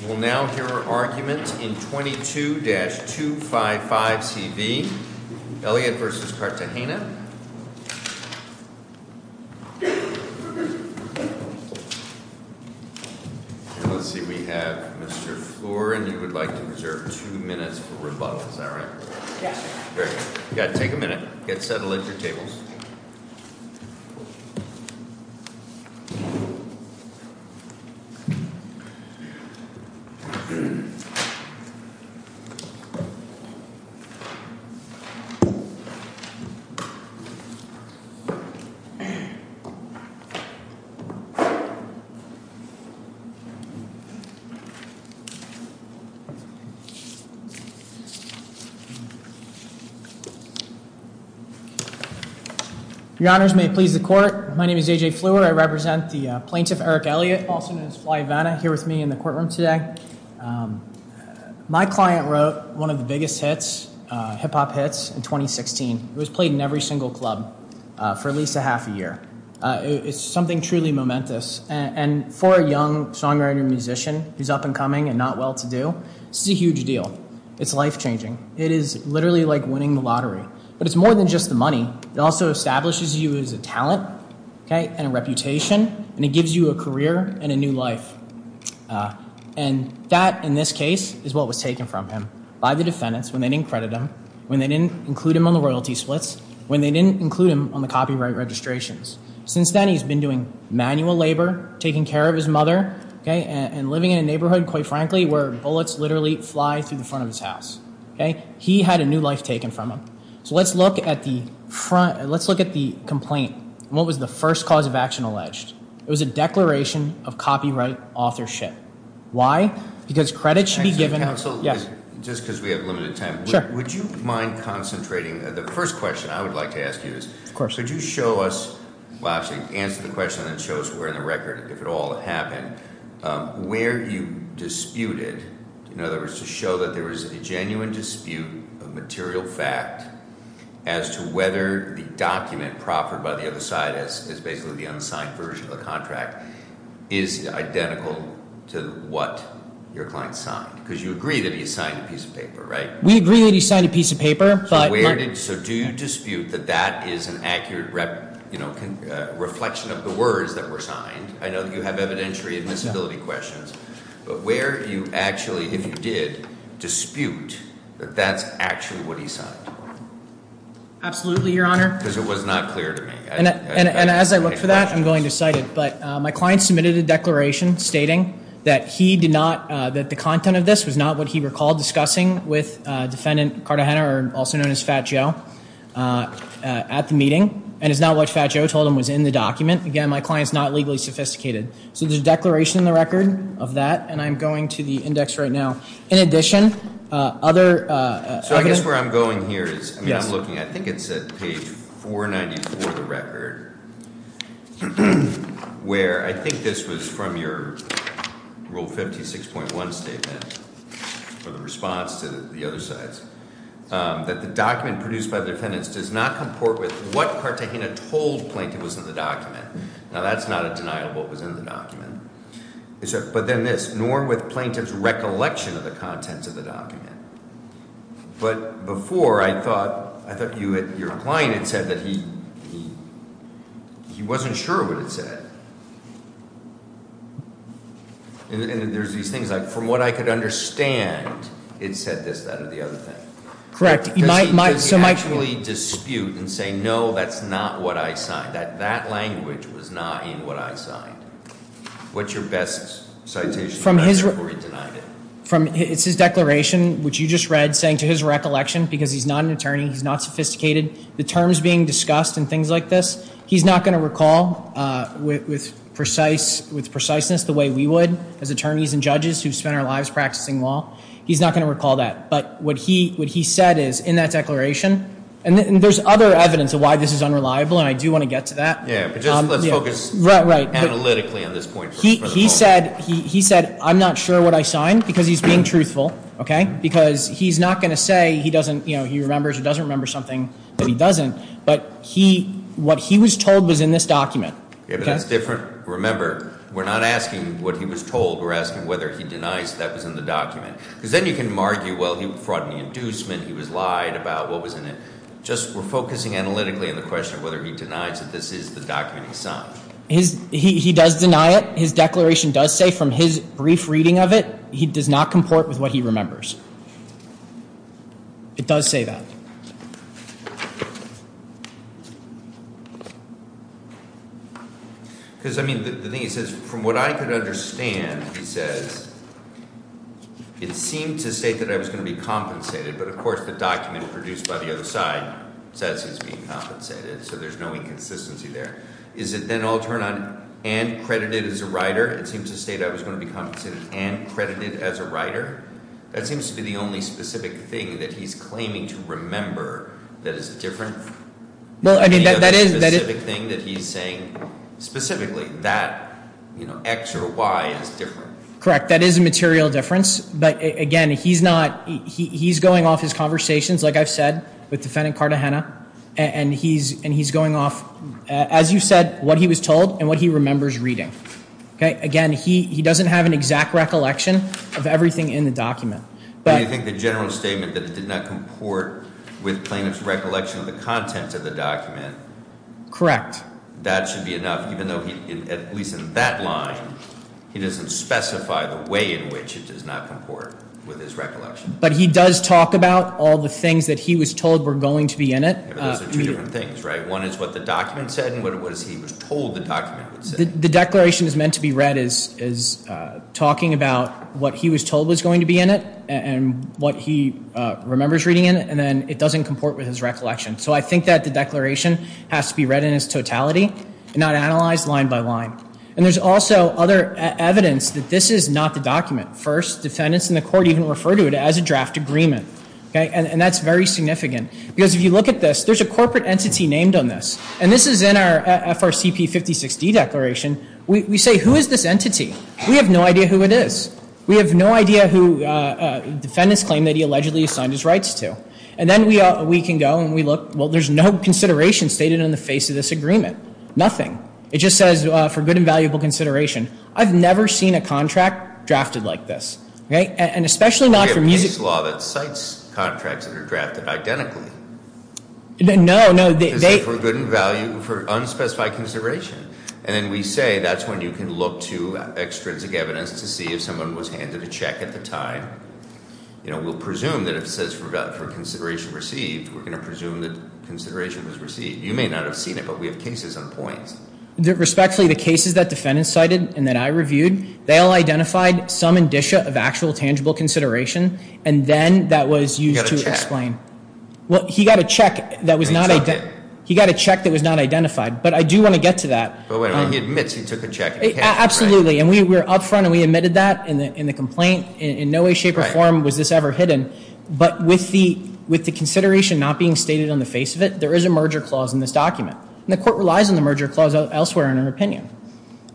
We will now hear argument in 22-255CV, Elliot v. Cartagena. Let's see, we have Mr. Floor, and you would like to reserve two minutes for rebuttal. Is that right? Yes, sir. Very good. You've got to take a minute. Get settled at your tables. Thank you. My client wrote one of the biggest hits, hip-hop hits, in 2016. It was played in every single club for at least a half a year. It's something truly momentous. And for a young songwriter-musician who's up and coming and not well-to-do, this is a huge deal. It's life-changing. It is literally like winning the lottery. But it's more than just the money. It also establishes you as a talent and a reputation, and it gives you a career and a new life. And that, in this case, is what was taken from him by the defendants when they didn't credit him, when they didn't include him on the royalty splits, when they didn't include him on the copyright registrations. Since then, he's been doing manual labor, taking care of his mother, and living in a neighborhood, quite frankly, where bullets literally fly through the front of his house. He had a new life taken from him. So let's look at the complaint. What was the first cause of action alleged? It was a declaration of copyright authorship. Why? Because credit should be given— Yes? Just because we have limited time. Sure. Would you mind concentrating? The first question I would like to ask you is— Of course. Could you show us—well, actually, answer the question and then show us where in the record, if at all, it happened, where you disputed, in other words, to show that there was a genuine dispute of material fact as to whether the document proffered by the other side, as basically the unsigned version of the contract, is identical to what your client signed? Because you agree that he signed a piece of paper, right? We agree that he signed a piece of paper, but— So do you dispute that that is an accurate reflection of the words that were signed? I know that you have evidentiary admissibility questions. But where you actually, if you did, dispute that that's actually what he signed? Absolutely, Your Honor. Because it was not clear to me. And as I look for that, I'm going to cite it. But my client submitted a declaration stating that he did not— that the content of this was not what he recalled discussing with Defendant Cartagena, also known as Fat Joe, at the meeting. And it's not what Fat Joe told him was in the document. Again, my client is not legally sophisticated. So there's a declaration in the record of that, and I'm going to the index right now. In addition, other evidence— So I guess where I'm going here is, I mean, I'm looking, I think it's at page 494 of the record, where I think this was from your Rule 56.1 statement, or the response to the other side's, that the document produced by the defendants does not comport with what Cartagena told Plaintiff was in the document. Now, that's not a denial of what was in the document. But then this, nor with Plaintiff's recollection of the contents of the document. But before, I thought your client had said that he wasn't sure what it said. And there's these things like, from what I could understand, it said this, that, or the other thing. Correct. Because he could actually dispute and say, no, that's not what I signed. That that language was not in what I signed. What's your best citation before he denied it? It's his declaration, which you just read, saying to his recollection, because he's not an attorney, he's not sophisticated, the terms being discussed and things like this, he's not going to recall with preciseness the way we would, as attorneys and judges who've spent our lives practicing law, he's not going to recall that. But what he said is, in that declaration, and there's other evidence of why this is unreliable, and I do want to get to that. Yeah, but just let's focus analytically on this point for the moment. He said, I'm not sure what I signed, because he's being truthful. Because he's not going to say he remembers or doesn't remember something that he doesn't. But what he was told was in this document. Yeah, but that's different. Remember, we're not asking what he was told. We're asking whether he denies that was in the document. Because then you can argue, well, he fraud and inducement, he was lied about, what was in it. Just we're focusing analytically on the question of whether he denies that this is the document he signed. He does deny it. His declaration does say from his brief reading of it, he does not comport with what he remembers. It does say that. Because, I mean, the thing is, from what I could understand, he says, it seemed to state that I was going to be compensated. But, of course, the document produced by the other side says he's being compensated. So there's no inconsistency there. Is it then all turned on and credited as a writer? It seems to state I was going to be compensated and credited as a writer. That seems to be the only specific thing that he's claiming to remember that is different. Any other specific thing that he's saying specifically that X or Y is different? Correct. That is a material difference. But, again, he's going off his conversations, like I've said, with Defendant Cartagena. And he's going off, as you said, what he was told and what he remembers reading. Again, he doesn't have an exact recollection of everything in the document. Do you think the general statement that it did not comport with plaintiff's recollection of the content of the document? Correct. That should be enough, even though, at least in that line, he doesn't specify the way in which it does not comport with his recollection. But he does talk about all the things that he was told were going to be in it. Those are two different things, right? One is what the document said and what he was told the document said. The declaration is meant to be read as talking about what he was told was going to be in it and what he remembers reading in it. And then it doesn't comport with his recollection. So I think that the declaration has to be read in its totality and not analyzed line by line. And there's also other evidence that this is not the document. First, defendants in the court even refer to it as a draft agreement. And that's very significant. Because if you look at this, there's a corporate entity named on this. And this is in our FRCP 56D declaration. We say, who is this entity? We have no idea who it is. We have no idea who defendants claim that he allegedly assigned his rights to. And then we can go and we look. Well, there's no consideration stated on the face of this agreement. Nothing. It just says, for good and valuable consideration. I've never seen a contract drafted like this. And especially not for music. We have this law that cites contracts that are drafted identically. No, no. For good and value for unspecified consideration. And then we say that's when you can look to extrinsic evidence to see if someone was handed a check at the time. We'll presume that it says for consideration received. We're going to presume that consideration was received. You may not have seen it, but we have cases on points. Respectfully, the cases that defendants cited and that I reviewed, they all identified some indicia of actual tangible consideration. And then that was used to explain. He got a check. He got a check that was not identified. But I do want to get to that. He admits he took a check. Absolutely. And we were up front and we admitted that in the complaint. In no way, shape, or form was this ever hidden. But with the consideration not being stated on the face of it, there is a merger clause in this document. And the court relies on the merger clause elsewhere in our opinion.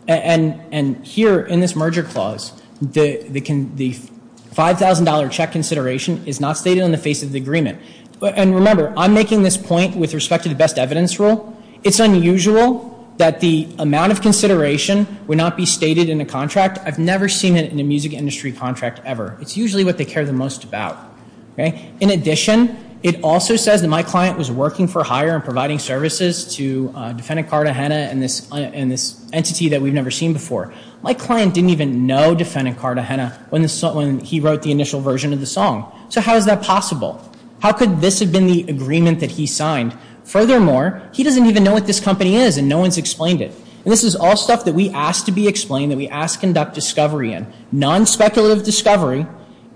And here in this merger clause, the $5,000 check consideration is not stated on the face of the agreement. And remember, I'm making this point with respect to the best evidence rule. It's unusual that the amount of consideration would not be stated in a contract. I've never seen it in a music industry contract ever. It's usually what they care the most about. In addition, it also says that my client was working for hire and providing services to defendant Cartagena and this entity that we've never seen before. My client didn't even know defendant Cartagena when he wrote the initial version of the song. So how is that possible? How could this have been the agreement that he signed? Furthermore, he doesn't even know what this company is and no one's explained it. And this is all stuff that we ask to be explained, that we ask to conduct discovery in. Non-speculative discovery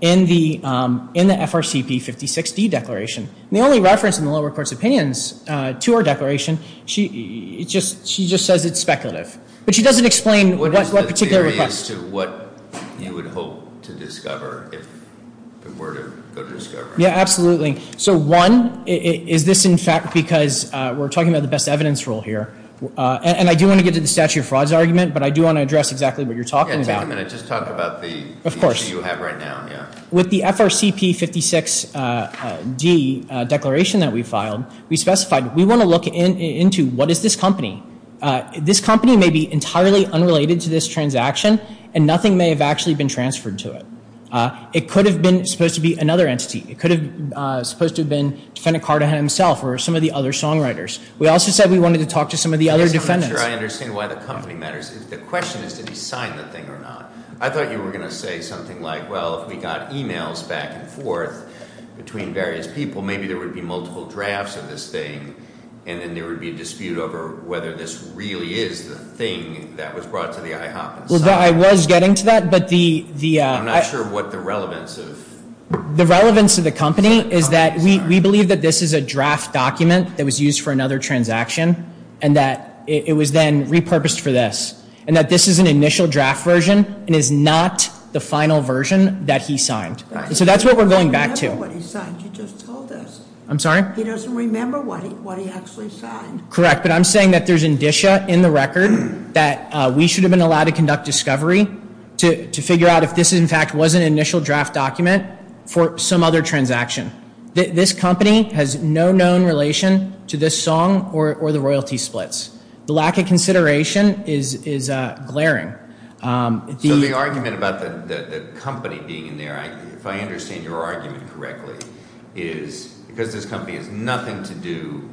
in the FRCP 56D declaration. And the only reference in the lower court's opinions to our declaration, she just says it's speculative. But she doesn't explain what particular request. As to what you would hope to discover if it were to go to discovery. Yeah, absolutely. So one, is this in fact because we're talking about the best evidence rule here. And I do want to get to the statute of frauds argument, but I do want to address exactly what you're talking about. Yeah, take a minute. Just talk about the issue you have right now. With the FRCP 56D declaration that we filed, we specified we want to look into what is this company. This company may be entirely unrelated to this transaction, and nothing may have actually been transferred to it. It could have been supposed to be another entity. It could have supposed to have been defendant Carter himself or some of the other songwriters. We also said we wanted to talk to some of the other defendants. I'm not sure I understand why the company matters. The question is, did he sign the thing or not? I thought you were going to say something like, well, if we got emails back and forth between various people, maybe there would be multiple drafts of this thing, and then there would be a dispute over whether this really is the thing that was brought to the IHOP and signed. Well, I was getting to that, but the- I'm not sure what the relevance of- The relevance of the company is that we believe that this is a draft document that was used for another transaction, and that it was then repurposed for this, and that this is an initial draft version and is not the final version that he signed. So that's what we're going back to. I don't remember what he signed. You just told us. I'm sorry? He doesn't remember what he actually signed. Correct, but I'm saying that there's indicia in the record that we should have been allowed to conduct discovery to figure out if this, in fact, was an initial draft document for some other transaction. This company has no known relation to this song or the royalty splits. The lack of consideration is glaring. So the argument about the company being in there, if I understand your argument correctly, is because this company has nothing to do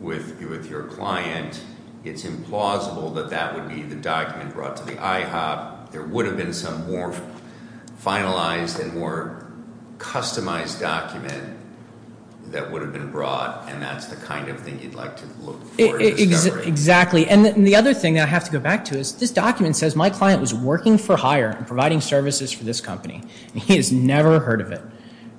with your client, it's implausible that that would be the document brought to the IHOP. There would have been some more finalized and more customized document that would have been brought, and that's the kind of thing you'd like to look for in discovery. Exactly. And the other thing that I have to go back to is this document says my client was working for hire and providing services for this company, and he has never heard of it.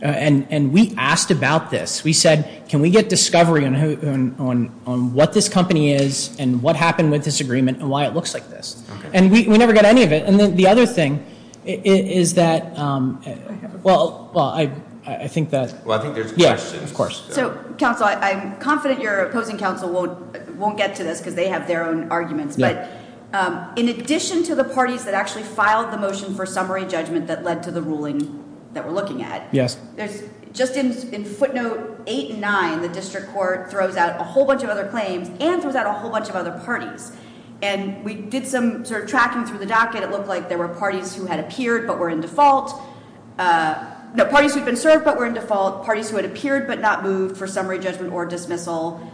And we asked about this. We said, can we get discovery on what this company is and what happened with this agreement and why it looks like this? And we never got any of it. And the other thing is that, well, I think that. Well, I think there's questions. Yeah, of course. So, counsel, I'm confident your opposing counsel won't get to this because they have their own arguments. But in addition to the parties that actually filed the motion for summary judgment that led to the ruling that we're looking at. Yes. Just in footnote eight and nine, the district court throws out a whole bunch of other claims and throws out a whole bunch of other parties. And we did some sort of tracking through the docket. It looked like there were parties who had appeared but were in default. No, parties who had been served but were in default. Parties who had appeared but not moved for summary judgment or dismissal.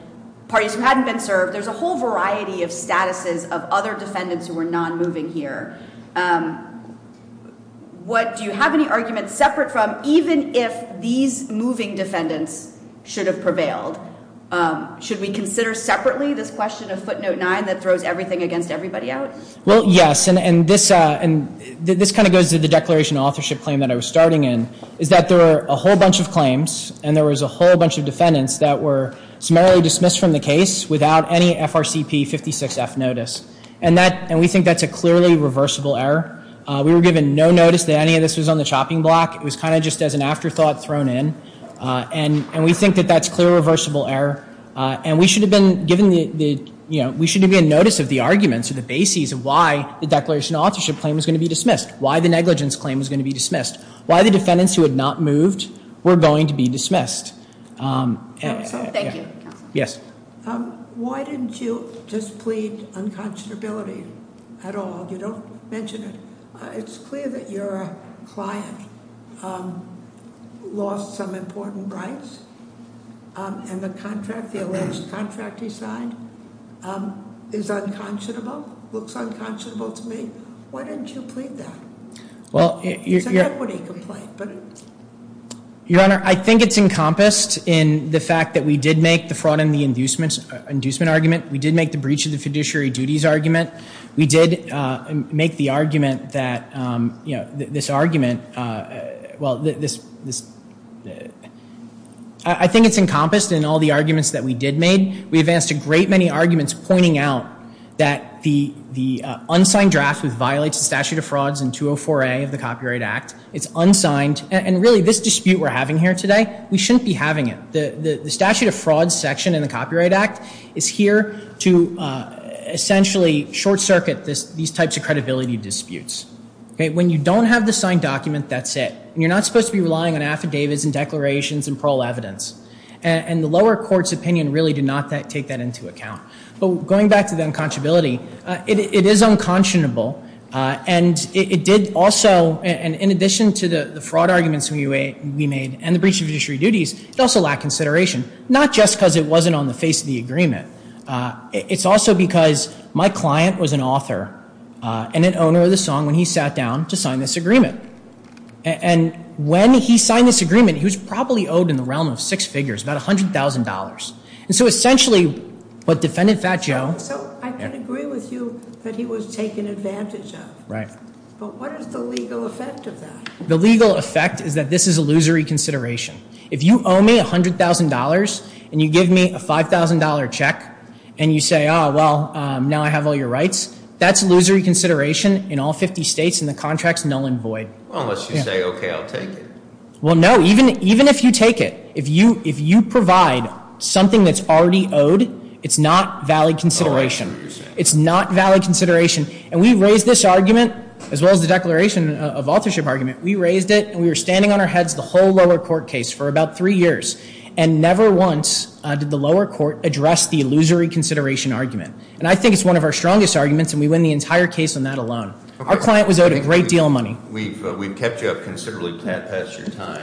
Parties who hadn't been served. There's a whole variety of statuses of other defendants who were non-moving here. Do you have any arguments separate from even if these moving defendants should have prevailed? Should we consider separately this question of footnote nine that throws everything against everybody out? Well, yes. And this kind of goes to the declaration of authorship claim that I was starting in is that there were a whole bunch of claims and there was a whole bunch of defendants that were summarily dismissed from the case without any FRCP 56-F notice. And we think that's a clearly reversible error. We were given no notice that any of this was on the chopping block. It was kind of just as an afterthought thrown in. And we think that that's clearly a reversible error. And we should have been given the, you know, we should have been in notice of the arguments or the bases of why the declaration of authorship claim was going to be dismissed. Why the negligence claim was going to be dismissed. Why the defendants who had not moved were going to be dismissed. Thank you. Yes. Why didn't you just plead unconscionability at all? You don't mention it. It's clear that your client lost some important rights. And the contract, the alleged contract he signed is unconscionable, looks unconscionable to me. Why didn't you plead that? It's an equity complaint. Your Honor, I think it's encompassed in the fact that we did make the fraud and the inducement argument. We did make the breach of the fiduciary duties argument. We did make the argument that, you know, this argument, well, this, I think it's encompassed in all the arguments that we did make. We advanced a great many arguments pointing out that the unsigned draft which violates the statute of frauds in 204A of the Copyright Act, it's unsigned, and really this dispute we're having here today, we shouldn't be having it. The statute of frauds section in the Copyright Act is here to essentially short circuit these types of credibility disputes. When you don't have the signed document, that's it. And you're not supposed to be relying on affidavits and declarations and parole evidence. And the lower court's opinion really did not take that into account. But going back to the unconscionability, it is unconscionable. And it did also, and in addition to the fraud arguments we made and the breach of fiduciary duties, it also lacked consideration. Not just because it wasn't on the face of the agreement. It's also because my client was an author and an owner of the song when he sat down to sign this agreement. And when he signed this agreement, he was probably owed in the realm of six figures, about $100,000. And so essentially what Defendant Fat Joe... Right. But what is the legal effect of that? The legal effect is that this is illusory consideration. If you owe me $100,000 and you give me a $5,000 check and you say, oh, well, now I have all your rights, that's illusory consideration in all 50 states and the contract's null and void. Unless you say, okay, I'll take it. Well, no. Even if you take it, if you provide something that's already owed, it's not valid consideration. It's not valid consideration. And we raised this argument, as well as the declaration of authorship argument. We raised it, and we were standing on our heads the whole lower court case for about three years. And never once did the lower court address the illusory consideration argument. And I think it's one of our strongest arguments, and we win the entire case on that alone. Our client was owed a great deal of money. We've kept you up considerably past your time.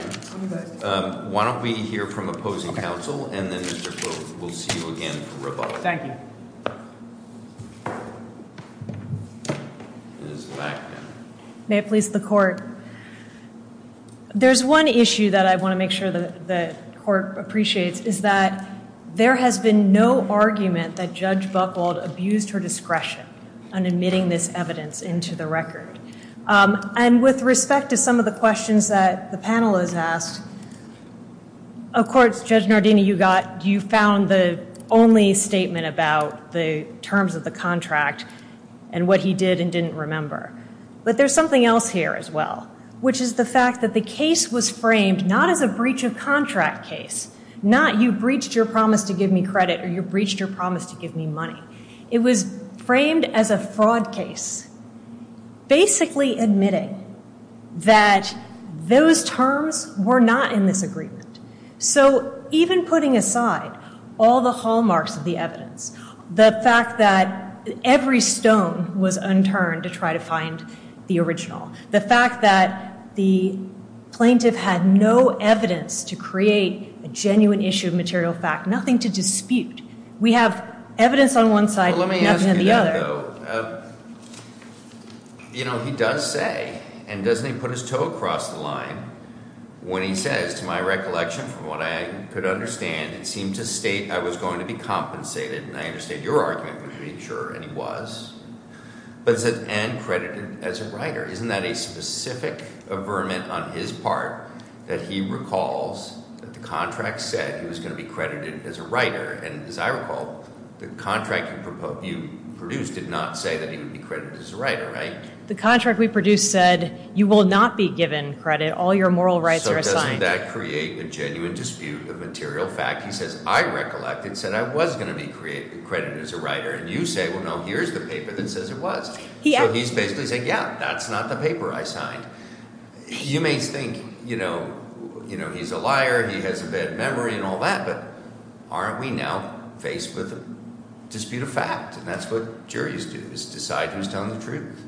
Why don't we hear from opposing counsel, and then we'll see you again for rebuttal. Thank you. Ms. Blackman. May it please the Court. There's one issue that I want to make sure the Court appreciates, is that there has been no argument that Judge Buchwald abused her discretion on admitting this evidence into the record. And with respect to some of the questions that the panel has asked, of course, Judge Nardini, you found the only statement about the terms of the contract and what he did and didn't remember. But there's something else here as well, which is the fact that the case was framed not as a breach of contract case, not you breached your promise to give me credit or you breached your promise to give me money. It was framed as a fraud case, basically admitting that those terms were not in this agreement. So even putting aside all the hallmarks of the evidence, the fact that every stone was unturned to try to find the original, the fact that the plaintiff had no evidence to create a genuine issue of material fact, nothing to dispute. We have evidence on one side, nothing on the other. Let me ask you that, though. You know, he does say, and doesn't he put his toe across the line, when he says, to my recollection, from what I could understand, it seemed to state I was going to be compensated. And I understand your argument would be, sure, and he was. But it said, and credited as a writer. Isn't that a specific averment on his part that he recalls that the contract said he was going to be credited as a writer? And as I recall, the contract you produced did not say that he would be credited as a writer, right? The contract we produced said you will not be given credit. All your moral rights are assigned. Doesn't that create a genuine dispute of material fact? He says, I recollect, it said I was going to be credited as a writer. And you say, well, no, here's the paper that says it was. So he's basically saying, yeah, that's not the paper I signed. You may think, you know, he's a liar, he has a bad memory and all that, but aren't we now faced with a dispute of fact? And that's what juries do, is decide who's telling the truth.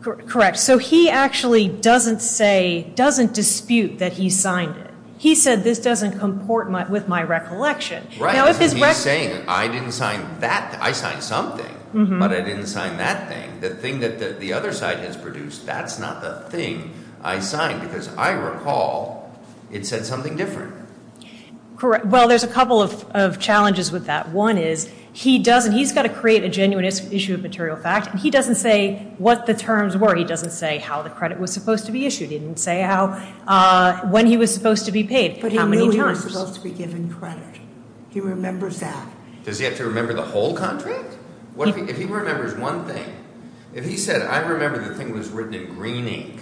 Correct. So he actually doesn't say, doesn't dispute that he signed it. He said, this doesn't comport with my recollection. Right. He's saying, I didn't sign that. I signed something, but I didn't sign that thing. The thing that the other side has produced, that's not the thing I signed, because I recall it said something different. Correct. Well, there's a couple of challenges with that. One is he doesn't, he's got to create a genuine issue of material fact, and he doesn't say what the terms were. He doesn't say how the credit was supposed to be issued. He didn't say how, when he was supposed to be paid, how many times. But he knew he was supposed to be given credit. He remembers that. Does he have to remember the whole contract? If he remembers one thing, if he said, I remember the thing was written in green ink,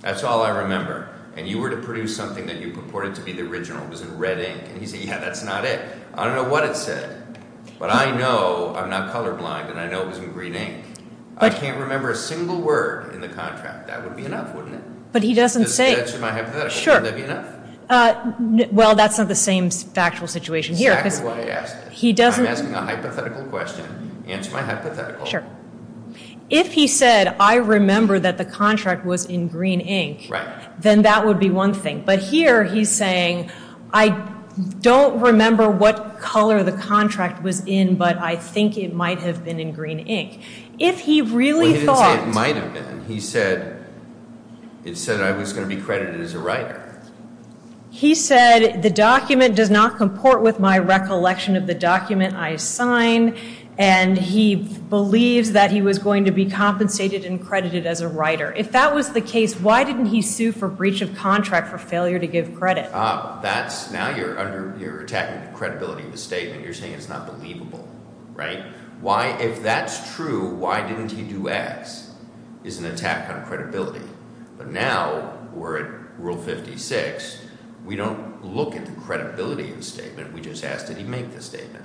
that's all I remember, and you were to produce something that you purported to be the original, it was in red ink, and he said, yeah, that's not it. I don't know what it said, but I know I'm not colorblind, and I know it was in green ink. I can't remember a single word in the contract. That would be enough, wouldn't it? But he doesn't say. Just answer my hypothetical. Sure. Wouldn't that be enough? Well, that's not the same factual situation here. Exactly what I asked. He doesn't. I'm asking a hypothetical question. Answer my hypothetical. Sure. If he said, I remember that the contract was in green ink, then that would be one thing. But here he's saying, I don't remember what color the contract was in, but I think it might have been in green ink. Well, he didn't say it might have been. He said it said I was going to be credited as a writer. He said the document does not comport with my recollection of the document I signed, and he believes that he was going to be compensated and credited as a writer. If that was the case, why didn't he sue for breach of contract for failure to give credit? Now you're attacking the credibility of the statement. You're saying it's not believable. If that's true, why didn't he do X is an attack on credibility. But now we're at Rule 56. We don't look at the credibility of the statement. We just ask, did he make the statement?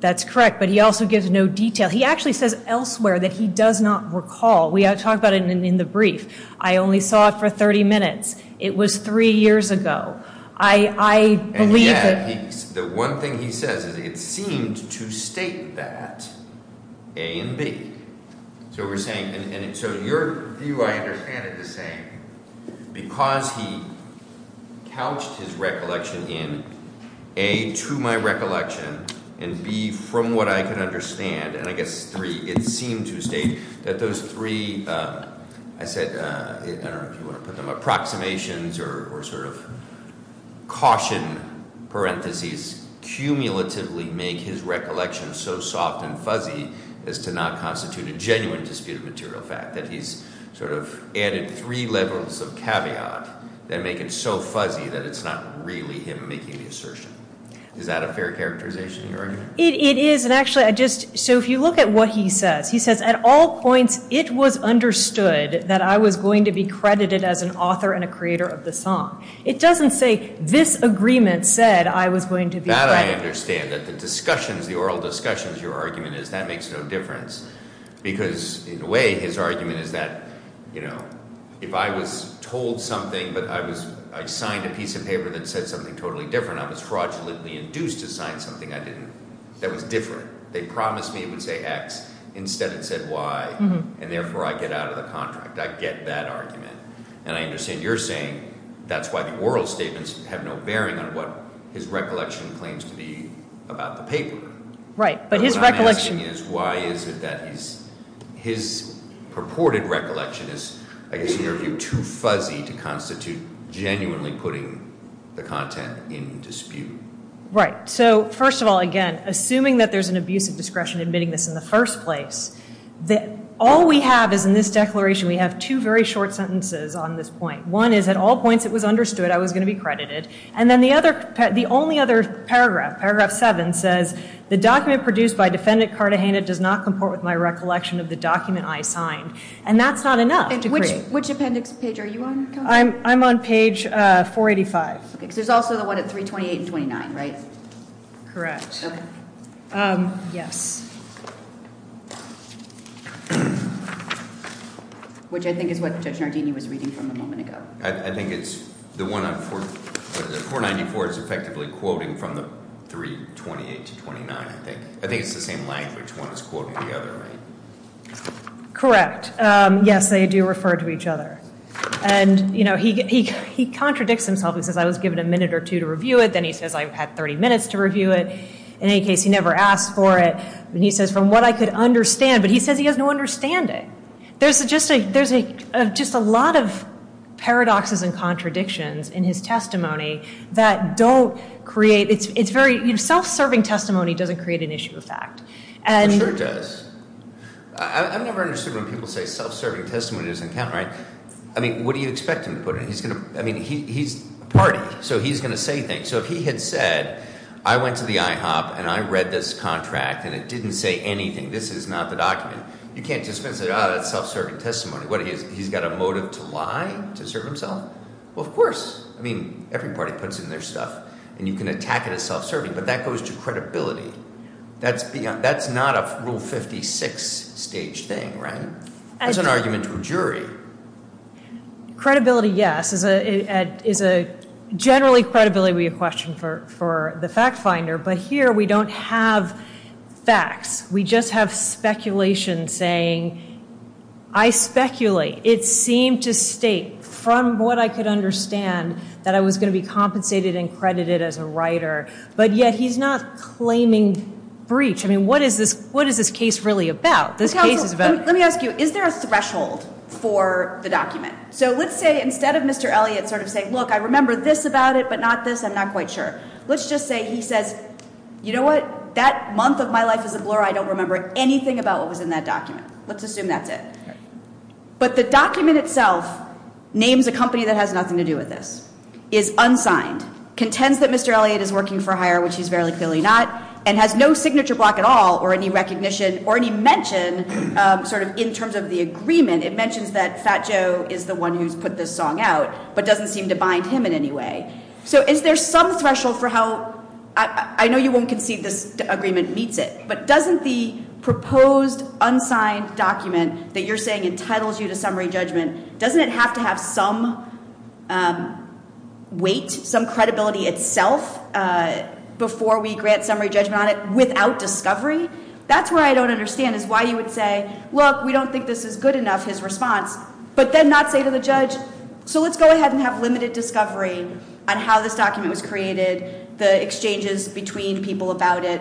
That's correct, but he also gives no detail. He actually says elsewhere that he does not recall. We talked about it in the brief. I only saw it for 30 minutes. It was three years ago. And yet the one thing he says is it seemed to state that A and B. So we're saying, and so your view I understand is the same. Because he couched his recollection in A, to my recollection, and B, from what I can understand, and I guess three, it seemed to state that those three, I said, I don't know if you want to put them, approximations or sort of caution parentheses, cumulatively make his recollection so soft and fuzzy as to not constitute a genuine disputed material fact, that he's sort of added three levels of caveat that make it so fuzzy that it's not really him making the assertion. Is that a fair characterization you're arguing? It is, and actually I just, so if you look at what he says, he says at all points it was understood that I was going to be credited as an author and a creator of the song. It doesn't say this agreement said I was going to be credited. That I understand, that the discussions, the oral discussions, your argument is that makes no difference. Because in a way his argument is that, you know, if I was told something, but I was, I signed a piece of paper that said something totally different, I was fraudulently induced to sign something I didn't, that was different. They promised me it would say X, instead it said Y, and therefore I get out of the contract. I get that argument. And I understand you're saying that's why the oral statements have no bearing on what his recollection claims to be about the paper. Right, but his recollection. But what I'm asking is why is it that his purported recollection is, I guess in your view, too fuzzy to constitute genuinely putting the content in dispute. Right, so first of all, again, assuming that there's an abuse of discretion admitting this in the first place, all we have is in this declaration we have two very short sentences on this point. One is at all points it was understood I was going to be credited. And then the other, the only other paragraph, paragraph seven says, the document produced by Defendant Cartagena does not comport with my recollection of the document I signed. And that's not enough to create. Which appendix page are you on? I'm on page 485. There's also the one at 328 and 29, right? Correct. Yes. Which I think is what Judge Nardini was reading from a moment ago. I think it's the one on 494 is effectively quoting from the 328 to 29, I think. I think it's the same language one is quoting the other, right? Correct. Yes, they do refer to each other. And, you know, he contradicts himself. He says I was given a minute or two to review it. Then he says I had 30 minutes to review it. In any case, he never asked for it. And he says from what I could understand. But he says he has no understanding. There's just a lot of paradoxes and contradictions in his testimony that don't create. It's very, you know, self-serving testimony doesn't create an issue of fact. It sure does. I've never understood when people say self-serving testimony doesn't count, right? I mean, what do you expect him to put in? I mean, he's a party, so he's going to say things. So if he had said I went to the IHOP and I read this contract and it didn't say anything, this is not the document. You can't just say, oh, that's self-serving testimony. What, he's got a motive to lie to serve himself? Well, of course. I mean, every party puts in their stuff. And you can attack it as self-serving. But that goes to credibility. That's not a Rule 56 stage thing, right? That's an argument to a jury. Credibility, yes, is a generally credibility would be a question for the fact finder. But here we don't have facts. We just have speculation saying I speculate. It seemed to state from what I could understand that I was going to be compensated and credited as a writer. But yet he's not claiming breach. I mean, what is this case really about? Let me ask you, is there a threshold for the document? So let's say instead of Mr. Elliott sort of saying, look, I remember this about it, but not this, I'm not quite sure. Let's just say he says, you know what, that month of my life is a blur. I don't remember anything about what was in that document. Let's assume that's it. But the document itself names a company that has nothing to do with this, is unsigned, contends that Mr. Elliott is working for hire, which he's very clearly not, and has no signature block at all or any recognition or any mention sort of in terms of the agreement. It mentions that Fat Joe is the one who's put this song out, but doesn't seem to bind him in any way. So is there some threshold for how I know you won't concede this agreement meets it, but doesn't the proposed unsigned document that you're saying entitles you to summary judgment, doesn't it have to have some weight, some credibility itself before we grant summary judgment on it without discovery? That's where I don't understand is why you would say, look, we don't think this is good enough, his response, but then not say to the judge, so let's go ahead and have limited discovery on how this document was created, the exchanges between people about it.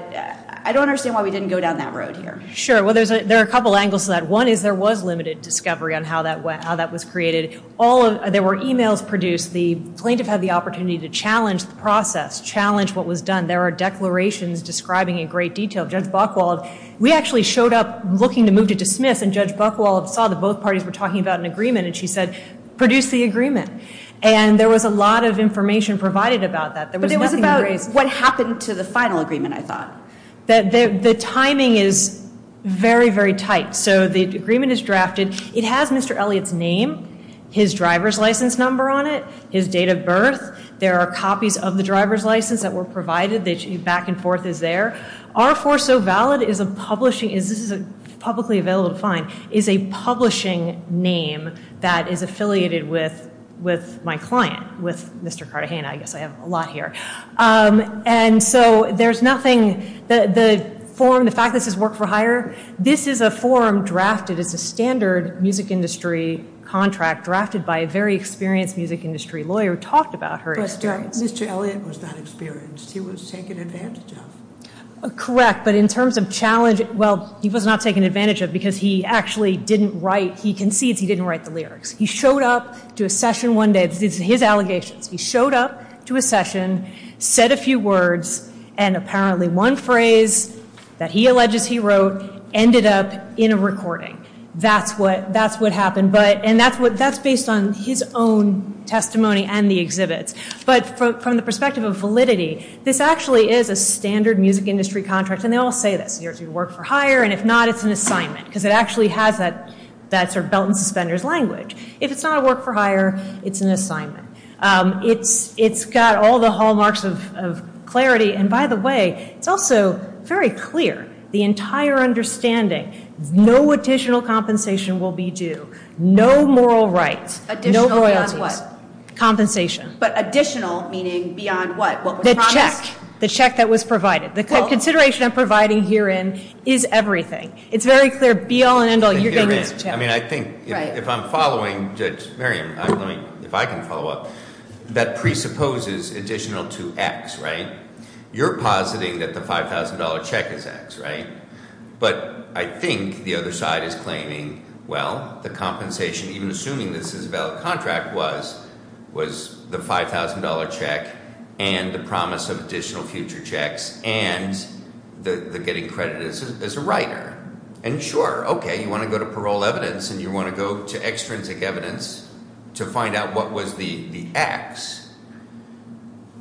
I don't understand why we didn't go down that road here. Sure, well, there are a couple angles to that. One is there was limited discovery on how that was created. There were e-mails produced. The plaintiff had the opportunity to challenge the process, challenge what was done. There are declarations describing in great detail. Judge Buchwald, we actually showed up looking to move to dismiss, and Judge Buchwald saw that both parties were talking about an agreement, and she said, produce the agreement. And there was a lot of information provided about that. But it was about what happened to the final agreement, I thought. The timing is very, very tight. So the agreement is drafted. It has Mr. Elliott's name, his driver's license number on it, his date of birth. There are copies of the driver's license that were provided. The back and forth is there. R4SoValid is a publishing, this is publicly available to find, is a publishing name that is affiliated with my client, with Mr. Cartagena. I guess I have a lot here. And so there's nothing, the form, the fact this is work for hire, this is a form drafted as a standard music industry contract, drafted by a very experienced music industry lawyer who talked about her experience. But Mr. Elliott was not experienced. He was taken advantage of. Correct, but in terms of challenge, well, he was not taken advantage of because he actually didn't write, he concedes he didn't write the lyrics. He showed up to a session one day, this is his allegations. He showed up to a session, said a few words, and apparently one phrase that he alleges he wrote ended up in a recording. That's what happened. And that's based on his own testimony and the exhibits. But from the perspective of validity, this actually is a standard music industry contract, and they all say this, it's work for hire, and if not, it's an assignment, because it actually has that sort of belt and suspenders language. If it's not a work for hire, it's an assignment. It's got all the hallmarks of clarity. And by the way, it's also very clear, the entire understanding, no additional compensation will be due, no moral rights, no royalties. Additional beyond what? Compensation. But additional meaning beyond what? The check. The check that was provided. The consideration I'm providing herein is everything. It's very clear, be all and end all, you're getting this check. I mean, I think if I'm following, if I can follow up, that presupposes additional to X, right? You're positing that the $5,000 check is X, right? But I think the other side is claiming, well, the compensation, even assuming this is a valid contract, was the $5,000 check and the promise of additional future checks and the getting credit as a writer. And sure, okay, you want to go to parole evidence and you want to go to extrinsic evidence to find out what was the X.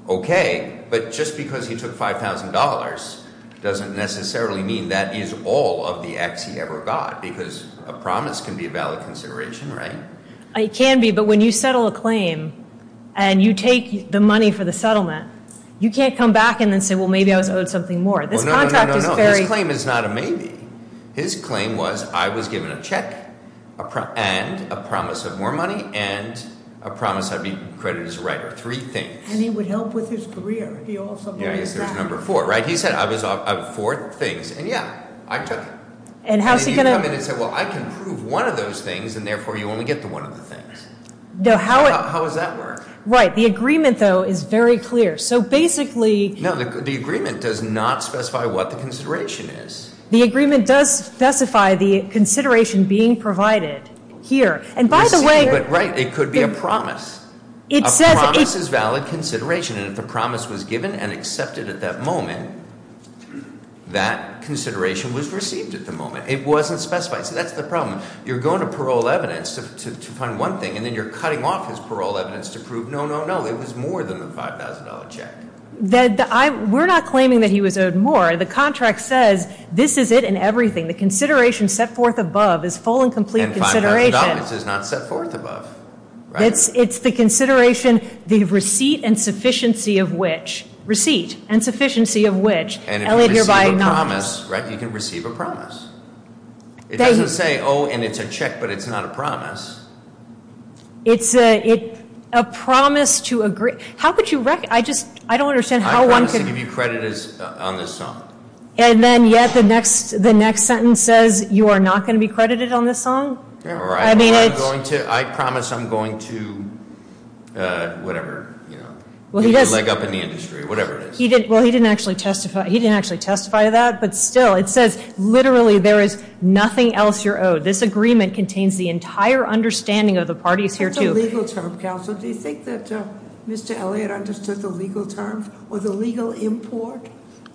Okay, but just because he took $5,000 doesn't necessarily mean that is all of the X he ever got because a promise can be a valid consideration, right? It can be, but when you settle a claim and you take the money for the settlement, you can't come back and then say, well, maybe I was owed something more. This contract is very- No, no, no, no, his claim is not a maybe. His claim was I was given a check and a promise of more money and a promise I'd be credited as a writer, three things. And he would help with his career. Yeah, I guess there's number four, right? He said I was owed four things, and yeah, I took it. And how's he going to- And you come in and say, well, I can prove one of those things, and therefore you only get the one of the things. No, how- How does that work? Right, the agreement, though, is very clear. So basically- No, the agreement does not specify what the consideration is. The agreement does specify the consideration being provided here. And by the way- You see, but right, it could be a promise. A promise is valid consideration, and if the promise was given and accepted at that moment, that consideration was received at the moment. It wasn't specified. See, that's the problem. You're going to parole evidence to find one thing, and then you're cutting off his parole evidence to prove, no, no, no, it was more than the $5,000 check. We're not claiming that he was owed more. The contract says this is it and everything. The consideration set forth above is full and complete consideration. And $5,000 is not set forth above, right? It's the consideration, the receipt and sufficiency of which. Receipt and sufficiency of which. And if you receive a promise, right, you can receive a promise. It doesn't say, oh, and it's a check, but it's not a promise. It's a promise to agree- How could you- I just, I don't understand how one could- I promise to give you credit on this song. And then yet the next sentence says you are not going to be credited on this song? Or I promise I'm going to, whatever, you know, give you a leg up in the industry, whatever it is. Well, he didn't actually testify to that, but still, it says literally there is nothing else you're owed. This agreement contains the entire understanding of the parties here to- That's a legal term, counsel. Do you think that Mr. Elliott understood the legal terms or the legal import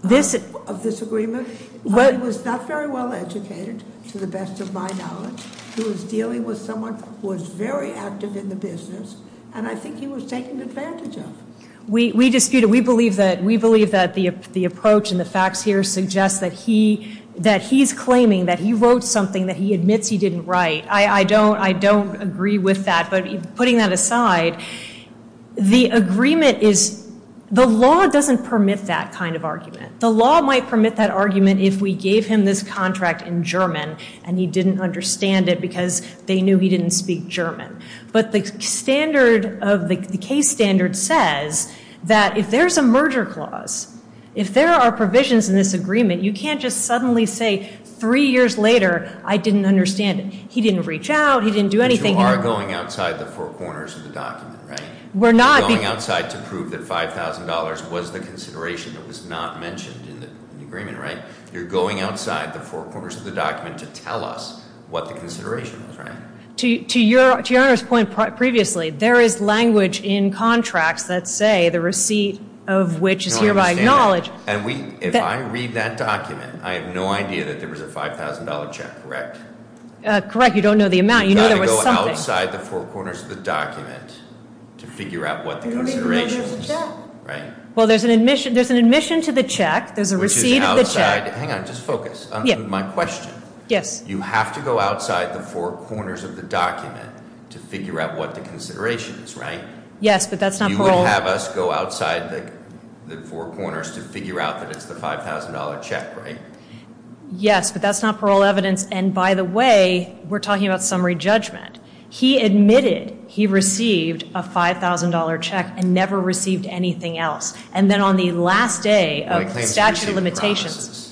of this agreement? He was not very well educated, to the best of my knowledge. He was dealing with someone who was very active in the business, and I think he was taken advantage of. We dispute it. We believe that the approach and the facts here suggest that he's claiming that he wrote something that he admits he didn't write. I don't agree with that, but putting that aside, the agreement is- The law doesn't permit that kind of argument. The law might permit that argument if we gave him this contract in German and he didn't understand it because they knew he didn't speak German. But the standard of the case standard says that if there's a merger clause, if there are provisions in this agreement, you can't just suddenly say three years later, I didn't understand it. He didn't reach out. He didn't do anything. But you are going outside the four corners of the document, right? We're not- You're going outside to prove that $5,000 was the consideration that was not mentioned in the agreement, right? You're going outside the four corners of the document to tell us what the consideration was, right? To Your Honor's point previously, there is language in contracts that say the receipt of which is hereby acknowledged. And if I read that document, I have no idea that there was a $5,000 check, correct? Correct. You don't know the amount. You know there was something. You've got to go outside the four corners of the document to figure out what the consideration was, right? Well, there's an admission to the check. There's a receipt of the check. Hang on. Just focus on my question. Yes. You have to go outside the four corners of the document to figure out what the consideration is, right? Yes, but that's not parole- You would have us go outside the four corners to figure out that it's the $5,000 check, right? Yes, but that's not parole evidence. And by the way, we're talking about summary judgment. He admitted he received a $5,000 check and never received anything else. But he claims he received the promises.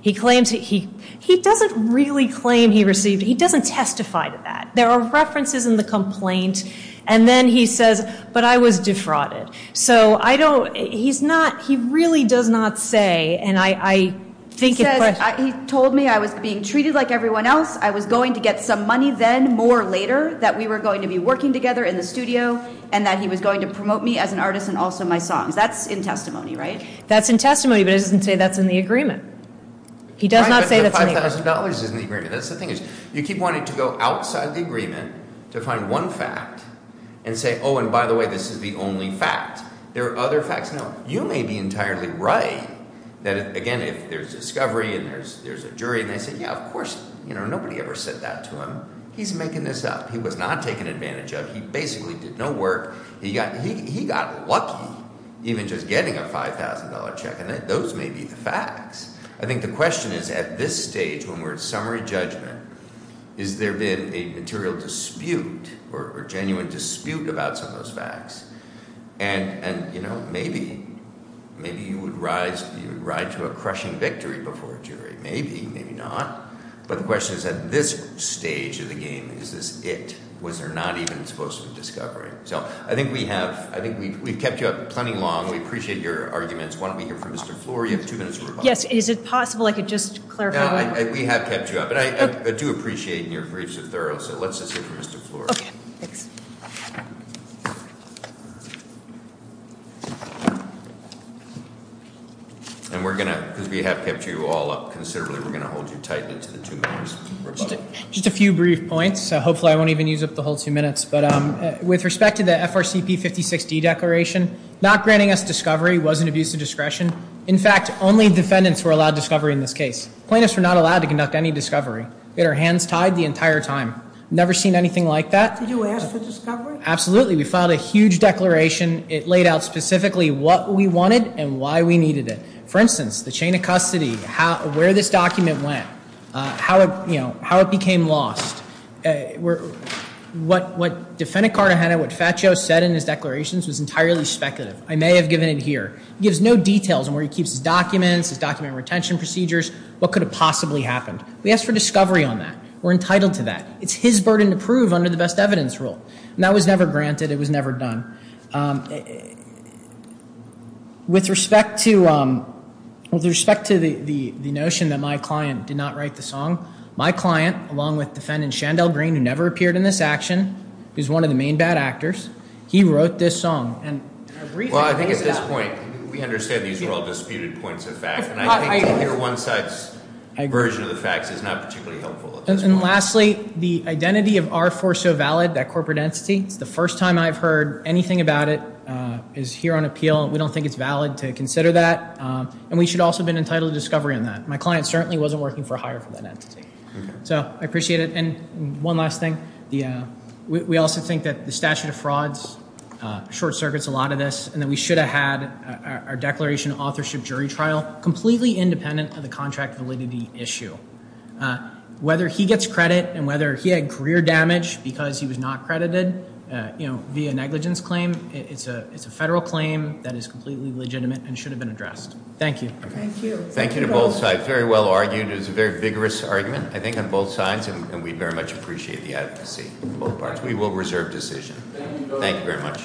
He claims he- he doesn't really claim he received- he doesn't testify to that. There are references in the complaint. And then he says, but I was defrauded. So, I don't- he's not- he really does not say, and I think- He said, he told me I was being treated like everyone else. I was going to get some money then, more later, that we were going to be working together in the studio, and that he was going to promote me as an artist and also my songs. That's in testimony, right? That's in testimony, but it doesn't say that's in the agreement. He does not say that's in the agreement. $5,000 is in the agreement. That's the thing. You keep wanting to go outside the agreement to find one fact and say, oh, and by the way, this is the only fact. There are other facts. Now, you may be entirely right that, again, if there's discovery and there's a jury, and they say, yeah, of course, you know, nobody ever said that to him. He's making this up. He was not taken advantage of. He basically did no work. He got lucky even just getting a $5,000 check, and those may be the facts. I think the question is at this stage when we're at summary judgment, is there been a material dispute or genuine dispute about some of those facts? And, you know, maybe you would ride to a crushing victory before a jury. Maybe, maybe not. But the question is at this stage of the game, is this it? Was there not even supposed to be discovery? So I think we have, I think we've kept you up plenty long. We appreciate your arguments. Why don't we hear from Mr. Floor? You have two minutes to reply. Yes. Is it possible I could just clarify? We have kept you up, and I do appreciate your briefs are thorough, so let's just hear from Mr. Floor. Okay. Thanks. And we're going to, because we have kept you all up considerably, we're going to hold you tight into the two minutes. Just a few brief points. Hopefully I won't even use up the whole two minutes. But with respect to the FRCP 56-D declaration, not granting us discovery was an abuse of discretion. In fact, only defendants were allowed discovery in this case. Plaintiffs were not allowed to conduct any discovery. We had our hands tied the entire time. Never seen anything like that. Did you ask for discovery? Absolutely. We filed a huge declaration. It laid out specifically what we wanted and why we needed it. For instance, the chain of custody, where this document went, how it became lost. What Defendant Cartagena, what Fatjo said in his declarations was entirely speculative. I may have given it here. He gives no details on where he keeps his documents, his document retention procedures, what could have possibly happened. We asked for discovery on that. We're entitled to that. It's his burden to prove under the best evidence rule. And that was never granted. It was never done. With respect to the notion that my client did not write the song, my client, along with Defendant Shandell Green, who never appeared in this action, who's one of the main bad actors, he wrote this song. Well, I think at this point, we understand these are all disputed points of fact. And I think to hear one side's version of the facts is not particularly helpful at this point. And lastly, the identity of R-4 so valid, that corporate entity. It's the first time I've heard anything about it is here on appeal. We don't think it's valid to consider that. And we should also have been entitled to discovery on that. My client certainly wasn't working for hire for that entity. So I appreciate it. And one last thing. We also think that the statute of frauds short circuits a lot of this, and that we should have had our declaration of authorship jury trial completely independent of the contract validity issue. Whether he gets credit and whether he had career damage because he was not credited, you know, via negligence claim, it's a federal claim that is completely legitimate and should have been addressed. Thank you. Thank you. Thank you to both sides. Very well argued. It was a very vigorous argument, I think, on both sides. And we very much appreciate the advocacy on both parts. We will reserve decision. Thank you very much.